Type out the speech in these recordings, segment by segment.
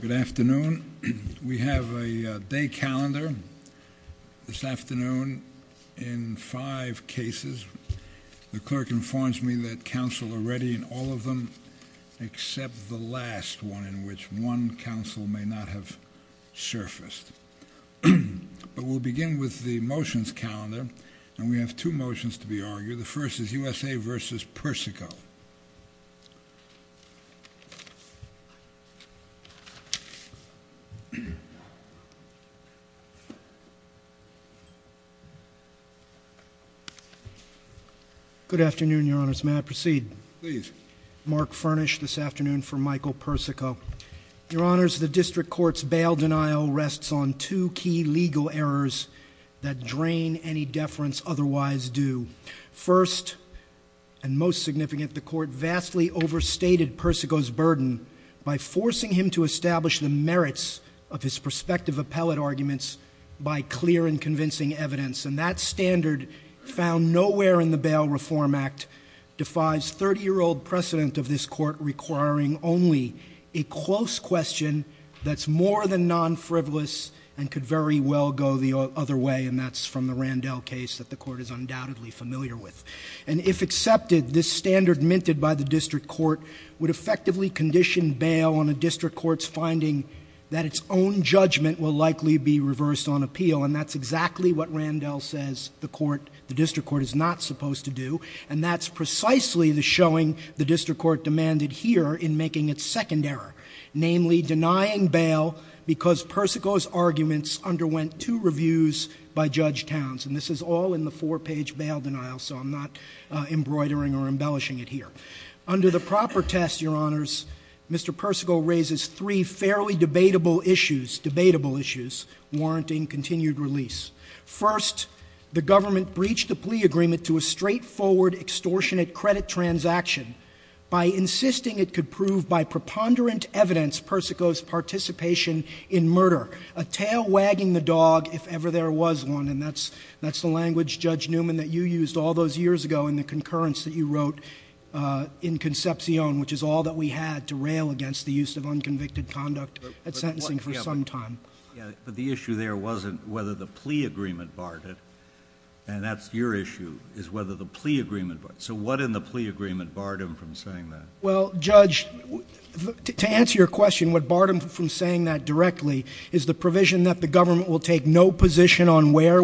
Good afternoon. We have a day calendar this afternoon in five cases. The clerk informs me that counsel are ready in all of them except the last one in which one counsel may not have surfaced. But we'll begin with the motions calendar and we have two motions to be argued. The first is USA v. Persico. Good afternoon, your honors. May I proceed? Please. Mark Furnish this afternoon for Michael Persico. Your honors, the district court's bail denial rests on two key legal errors that drain any deference otherwise due. First and most significant, that the court vastly overstated Persico's burden by forcing him to establish the merits of his prospective appellate arguments by clear and convincing evidence. And that standard found nowhere in the Bail Reform Act defies 30-year-old precedent of this court requiring only a close question that's more than non-frivolous and could very well go the other way, and that's from the Randell case that the court is undoubtedly familiar with. And if accepted, this standard minted by the district court would effectively condition bail on a district court's finding that its own judgment will likely be reversed on appeal. And that's exactly what Randell says the court, the district court is not supposed to do. And that's precisely the showing the district court demanded here in making its second error, namely denying bail because Persico's arguments underwent two reviews by Judge Towns. And this is all in the four-page bail denial, so I'm not embroidering or embellishing it here. Under the proper test, Your Honors, Mr. Persico raises three fairly debatable issues, debatable issues, warranting continued release. First, the government breached the plea agreement to a straightforward extortionate credit transaction by insisting it could prove by preponderant evidence Persico's participation in murder, a tail wagging the dog if ever there was one, and that's the language, Judge Newman, that you used all those years ago in the concurrence that you wrote in Concepcion, which is all that we had to rail against the use of unconvicted conduct at sentencing for some time. But the issue there wasn't whether the plea agreement barred it, and that's your issue, is whether the plea agreement barred it. So what in the plea agreement barred him from saying that? Well, Judge, to answer your question, what barred him from saying that directly is the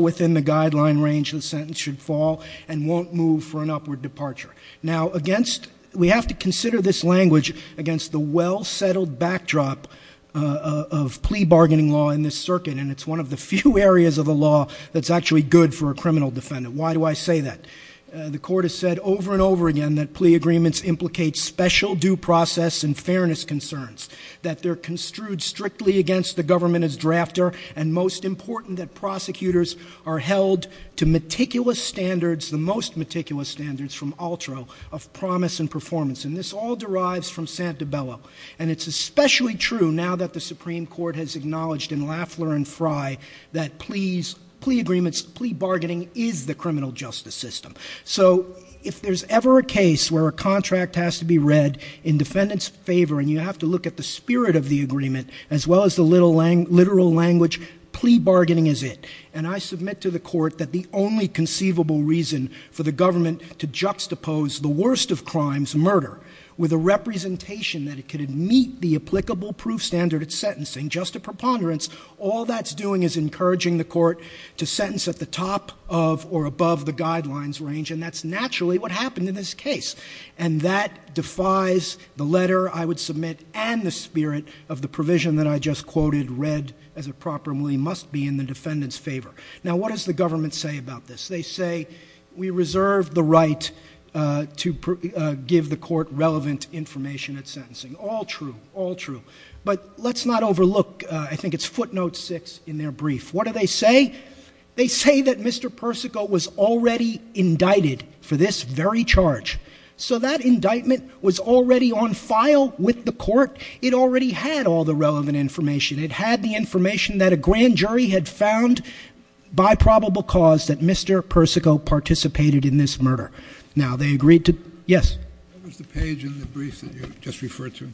within the guideline range the sentence should fall and won't move for an upward departure. Now, against we have to consider this language against the well-settled backdrop of plea bargaining law in this circuit, and it's one of the few areas of the law that's actually good for a criminal defendant. Why do I say that? The Court has said over and over again that plea agreements implicate special due process and fairness concerns, that they're are held to meticulous standards, the most meticulous standards from Altro of promise and performance, and this all derives from Santabella. And it's especially true now that the Supreme Court has acknowledged in Lafler and Fry that plea agreements, plea bargaining is the criminal justice system. So if there's ever a case where a contract has to be read in defendant's favor and you have to look at the spirit of the agreement as well as the literal language, plea bargaining is it. And I submit to the Court that the only conceivable reason for the government to juxtapose the worst of crimes, murder, with a representation that it could meet the applicable proof standard at sentencing, just a preponderance, all that's doing is encouraging the Court to sentence at the top of or above the guidelines range, and that's naturally what happened in this case. And that defies the letter I would submit and the spirit of the provision that I just quoted, read as it properly must be in the defendant's favor. Now what does the government say about this? They say we reserve the right to give the Court relevant information at sentencing. All true, all true. But let's not overlook, I think it's footnote six in their brief. What do they say? They say that Mr. Persico was already indicted for this very charge. So that indictment was already on file with the Court. It already had all the relevant information. It had the Supreme Jury had found by probable cause that Mr. Persico participated in this murder. Now they agreed to, yes? What was the page in the brief that you just referred to?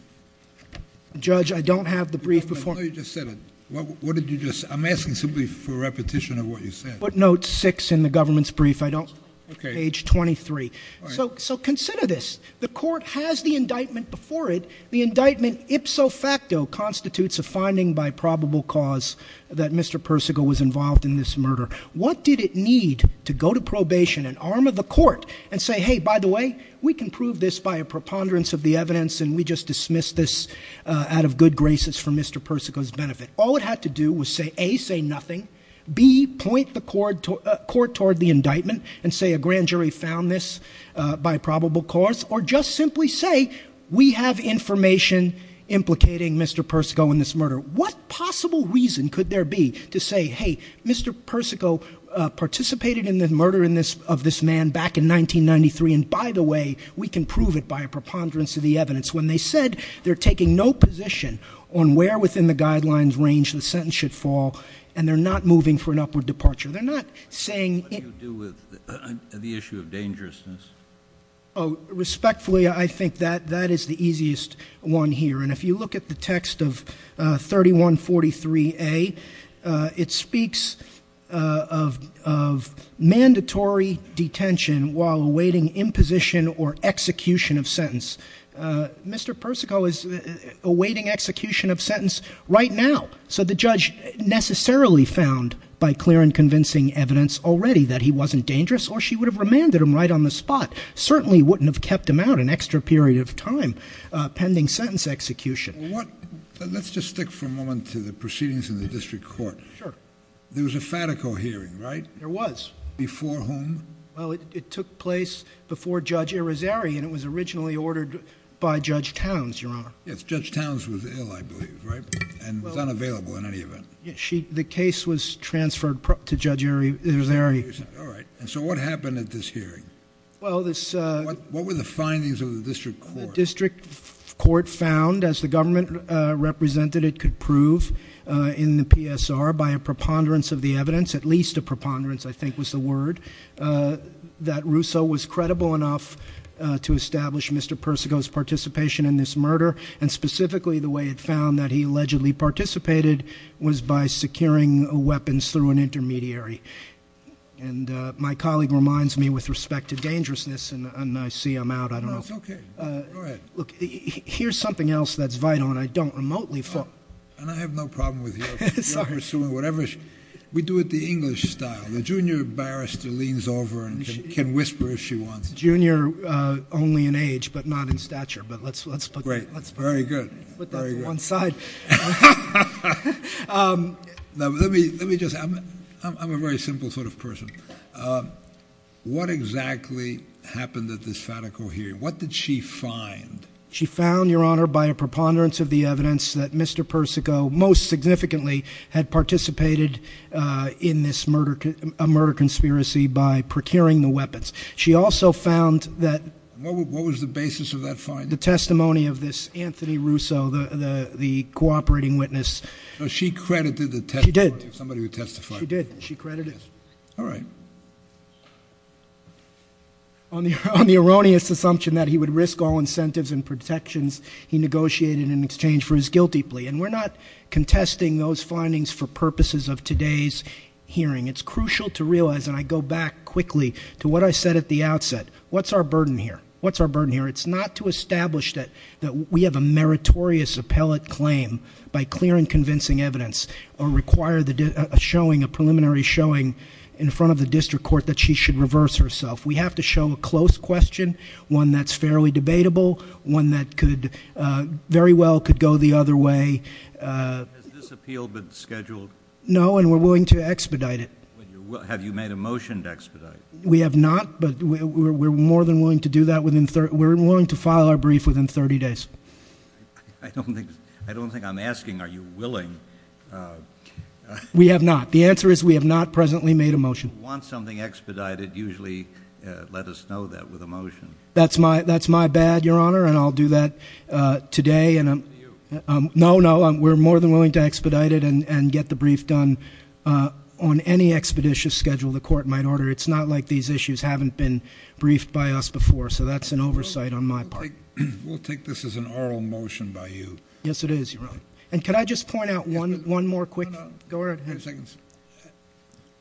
Judge, I don't have the brief before. I know you just said it. What did you just, I'm asking simply for repetition of what you said. Footnote six in the government's brief, I don't, page 23. So consider this. The Court has the indictment before it. The indictment ipso facto constitutes a finding by probable cause that Mr. Persico was involved in this murder. What did it need to go to probation and arm of the Court and say, hey, by the way, we can prove this by a preponderance of the evidence and we just dismissed this out of good graces for Mr. Persico's benefit. All it had to do was say, A, say nothing. B, point the Court toward the indictment and say a grand jury found this by probable cause. Or just simply say, we have information implicating Mr. Persico in this murder. What possible reason could there be to say, hey, Mr. Persico participated in the murder of this man back in 1993, and by the way, we can prove it by a preponderance of the evidence when they said they're taking no position on where within the guidelines range the sentence should fall and they're not moving for an upward departure. They're not saying, What do you do with the issue of dangerousness? Oh, respectfully, I think that that is the easiest one here. And if you look at the text of 3143A, it speaks of mandatory detention while awaiting imposition or execution of sentence. Mr. Persico is awaiting execution of sentence right now. So the judge necessarily found by clear and convincing evidence already that he wasn't dangerous or she would have landed him right on the spot. Certainly wouldn't have kept him out an extra period of time pending sentence execution. Let's just stick for a moment to the proceedings in the District Court. There was a Fatico hearing, right? There was. Before whom? Well, it took place before Judge Irizarry and it was originally ordered by Judge Towns, Your Honor. Yes, Judge Towns was ill, I believe, right? And was unavailable in any event. The case was transferred to Judge Irizarry. All right. And so what happened at this hearing? Well, this What were the findings of the District Court? The District Court found, as the government represented it could prove in the PSR by a preponderance of the evidence, at least a preponderance I think was the word, that Russo was credible enough to establish Mr. Persico's participation in this murder. And specifically the way it And my colleague reminds me with respect to dangerousness and I see I'm out. I don't know. No, it's okay. Go ahead. Look, here's something else that's vital and I don't remotely And I have no problem with you pursuing whatever. We do it the English style. The junior barrister leans over and can whisper if she wants. Junior only in age, but not in stature. But let's put that Great. Very good. Let's put that to one side. Let me just, I'm a very simple sort of person. What exactly happened at this Fatico hearing? What did she find? She found, Your Honor, by a preponderance of the evidence that Mr. Persico most significantly had participated in this murder, a murder conspiracy by procuring the weapons. She also found that What was the basis of that finding? She credited the testimony of this Anthony Russo, the cooperating witness. She credited the testimony. She did. Somebody who testified. She did. She credited. All right. On the erroneous assumption that he would risk all incentives and protections, he negotiated in exchange for his guilty plea. And we're not contesting those findings for purposes of today's hearing. It's crucial to realize, and I go back quickly to what I said at the we have a meritorious appellate claim by clear and convincing evidence or require a preliminary showing in front of the district court that she should reverse herself. We have to show a close question, one that's fairly debatable, one that could very well could go the other way. Has this appeal been scheduled? No, and we're willing to expedite it. Have you made a motion to expedite? We have not, but we're more than willing to do that within 30. We're willing to file our brief within 30 days. I don't think I don't think I'm asking. Are you willing? We have not. The answer is we have not presently made a motion. Want something expedited, usually let us know that with a motion. That's my that's my bad, Your Honor. And I'll do that today. And I'm no, no, we're more than willing to expedite it and get the brief done on any expeditious schedule. The court might order. It's not like these issues haven't been briefed by us before. So that's an oversight on my part. We'll take this as an oral motion by you. Yes, it is. And could I just point out one one more quick go ahead.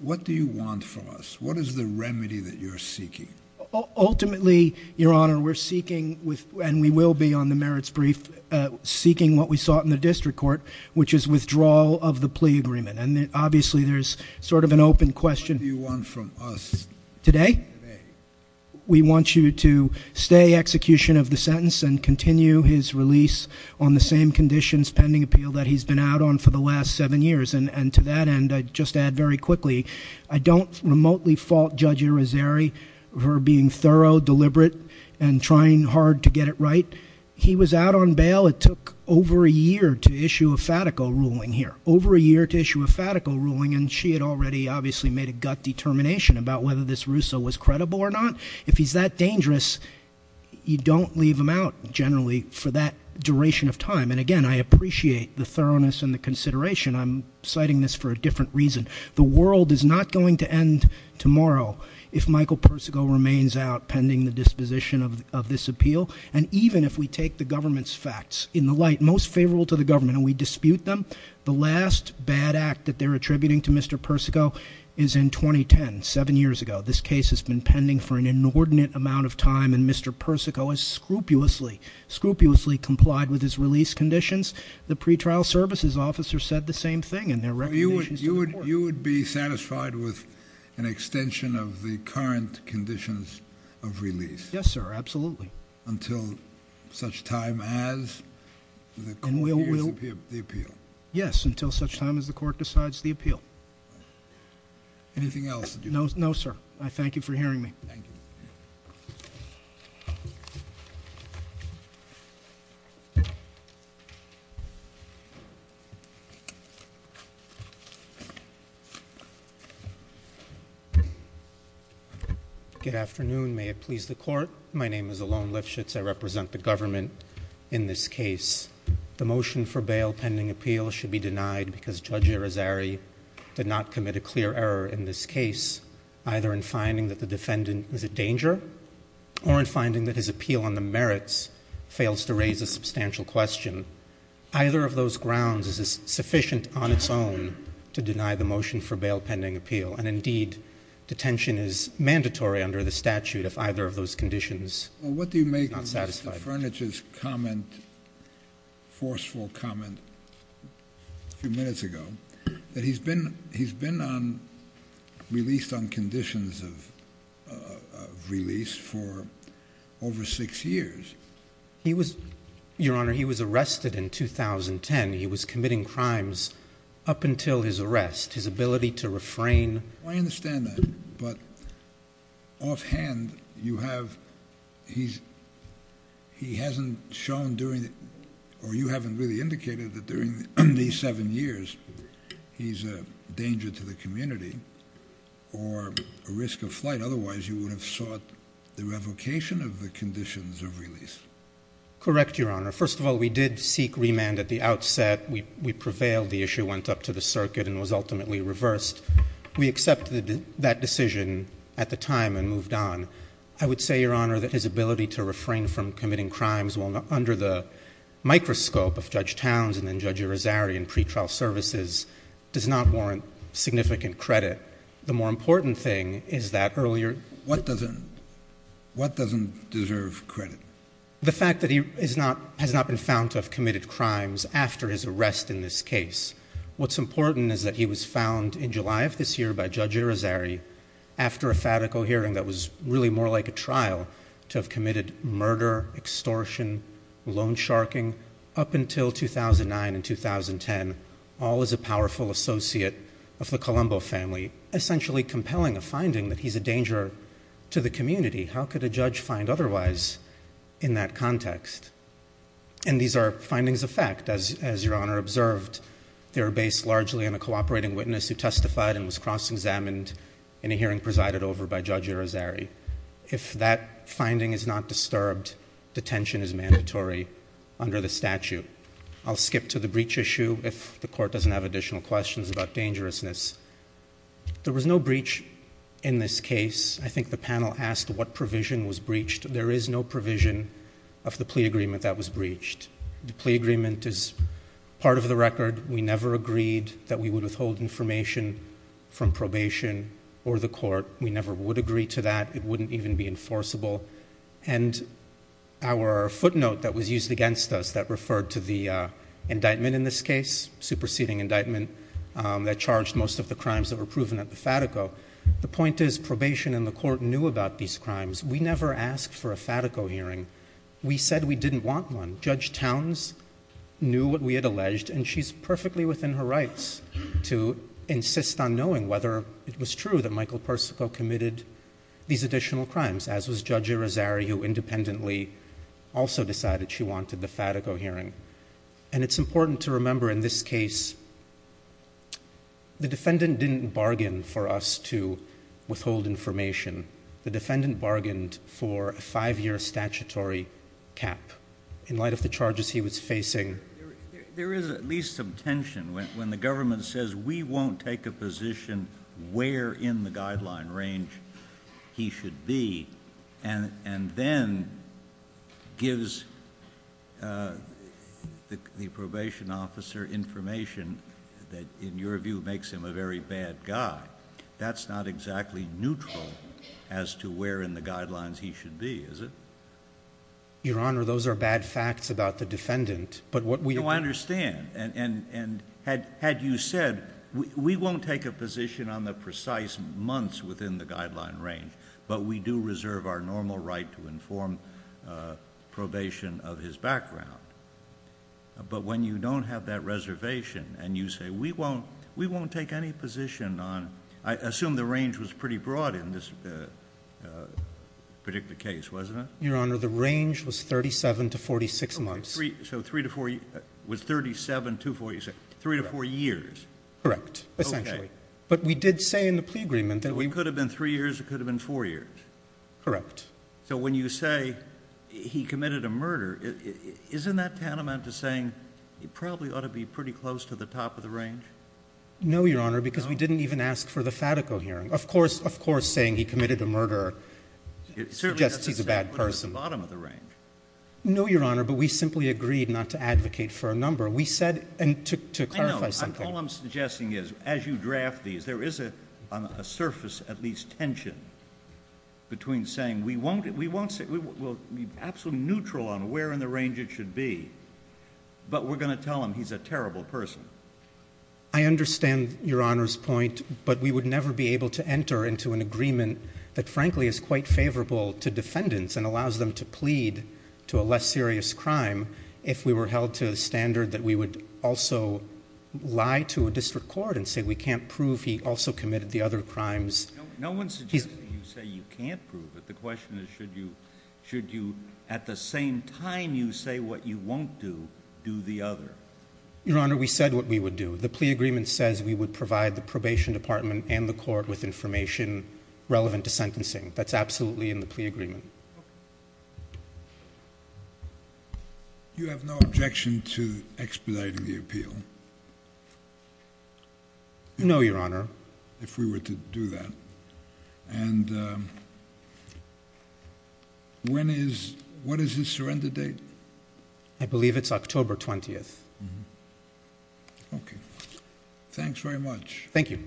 What do you want from us? What is the remedy that you're seeking? Ultimately, Your Honor, we're seeking with and we will be on the merits brief seeking what we sought in the district court, which is withdrawal of the plea agreement. And obviously, there's sort of an open question. What do you want from us today? We want you to stay execution of the sentence and continue his release on the same conditions pending appeal that he's been out on for the last seven years. And to that end, I just add very quickly, I don't remotely fault Judge Irizarry for being thorough, deliberate and trying hard to get it right. He was out on bail. It took over a year to issue a fatical ruling here, over a year to actually made a gut determination about whether this Russo was credible or not. If he's that dangerous, you don't leave him out generally for that duration of time. And again, I appreciate the thoroughness and the consideration. I'm citing this for a different reason. The world is not going to end tomorrow if Michael Persico remains out pending the disposition of this appeal. And even if we take the government's facts in the light most favorable to the government and we dispute them, the last bad act that they're attributing to Mr. Persico is in 2010, seven years ago. This case has been pending for an inordinate amount of time. And Mr. Persico has scrupulously, scrupulously complied with his release conditions. The pretrial services officer said the same thing in their recommendations to the court. You would be satisfied with an extension of the current conditions of release? Yes, sir. Absolutely. Until such time as the court hears the appeal? Yes, until such time as the court decides the appeal. Anything else? No, sir. I thank you for hearing me. Good afternoon. May it please the court. My name is Alon Lifshitz. I represent the government in this case. The motion for bail pending appeal should be denied because Judge Irizarry did not commit a clear error in this case, either in finding that the defendant is a danger or in finding that his appeal on the merits fails to raise a substantial question. Either of those grounds is sufficient on its own to deny the motion for bail pending appeal. And indeed, detention is mandatory under the statute if either of those conditions is not satisfied. What do you make of Mr. Furniture's comment, forceful comment a few minutes ago, that he's been released on conditions of release for over six years? He was, your honor, he was arrested in 2010. He was committing crimes up until his arrest. His ability to refrain. I understand that, but offhand, you have, he hasn't shown during, or you haven't really indicated that during these seven years, he's a danger to the community or a risk of flight. Otherwise, you would have sought the revocation of the conditions of release. Correct, your honor. First of all, we did seek remand at the outset. We prevailed. The issue went up to the circuit and was ultimately reversed. We accepted that decision at the time and moved on. I would say, your honor, that his ability to refrain from committing crimes under the microscope of Judge Towns and then Judge Irizarry in pretrial services does not warrant significant credit. The more important thing is that earlier- What doesn't, what doesn't deserve credit? The fact that he is not, has not been found to have committed crimes after his arrest in this case. What's important is that he was found in July of this year by Judge Irizarry, after a fatical hearing that was really more like a trial, to have committed murder, extortion, loan sharking, up until 2009 and 2010, all as a powerful associate of the Colombo family. Essentially compelling a finding that he's a danger to the community. How could a judge find otherwise in that context? And these are findings of fact, as your honor observed. They're based largely on a cooperating witness who testified and was cross-examined in a hearing presided over by Judge Irizarry. If that finding is not disturbed, detention is mandatory under the statute. I'll skip to the breach issue if the court doesn't have additional questions about dangerousness. There was no breach in this case. I think the panel asked what provision was breached. There is no provision of the plea agreement that was breached. The plea agreement is part of the record. We never agreed that we would withhold information from probation or the court. We never would agree to that. It wouldn't even be enforceable. And our footnote that was used against us that referred to the indictment in this case, superseding indictment that charged most of the crimes that were proven at the fatico. The point is, probation and the court knew about these crimes. We never asked for a fatico hearing. We said we didn't want one. Judge Towns knew what we had alleged, and she's perfectly within her rights to insist on knowing whether it was true that Michael Persico committed these additional crimes, as was Judge Irizarry, who independently also decided she wanted the fatico hearing. And it's important to remember in this case, the defendant didn't bargain for us to withhold information. The defendant bargained for a five-year statutory cap in light of the charges he was facing. There is at least some tension when the government says, we won't take a position where in the guideline range he should be, and then gives the probation officer information that, in your view, makes him a very bad guy. That's not exactly neutral as to where in the guidelines he should be, is it? Your Honor, those are bad facts about the defendant, but what we- No, I understand. And had you said, we won't take a position on the precise months within the guideline range, but we do reserve our normal right to inform probation of his background. But when you don't have that reservation, and you say, we won't take any position on- I assume the range was pretty broad in this particular case, wasn't it? Your Honor, the range was 37 to 46 months. So, three to four- was 37 to 46- three to four years? Correct, essentially. But we did say in the plea agreement that we- It could have been three years, it could have been four years. Correct. So, when you say, he committed a murder, isn't that tantamount to saying he probably ought to be pretty close to the top of the range? No, Your Honor, because we didn't even ask for the Fatico hearing. Of course, of course, saying he committed a murder suggests he's a bad person. It certainly doesn't sound like he's at the bottom of the range. No, Your Honor, but we simply agreed not to advocate for a number. We said- and to clarify something- as you draft these, there is a surface, at least, tension between saying, we won't say- we'll be absolutely neutral on where in the range it should be, but we're going to tell him he's a terrible person. I understand Your Honor's point, but we would never be able to enter into an agreement that frankly is quite favorable to defendants and allows them to plead to a less serious crime if we were held to the standard that we would also lie to a district court and say we can't prove he also committed the other crimes. No one suggested that you say you can't prove it. The question is, should you, at the same time you say what you won't do, do the other? Your Honor, we said what we would do. The plea agreement says we would provide the probation department and the court with information relevant to sentencing. That's absolutely in the plea agreement. You have no objection to expediting the appeal? No, Your Honor. If we were to do that. And when is- what is his surrender date? I believe it's October 20th. Okay. Thanks very much. Thank you.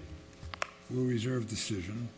We'll reserve decision.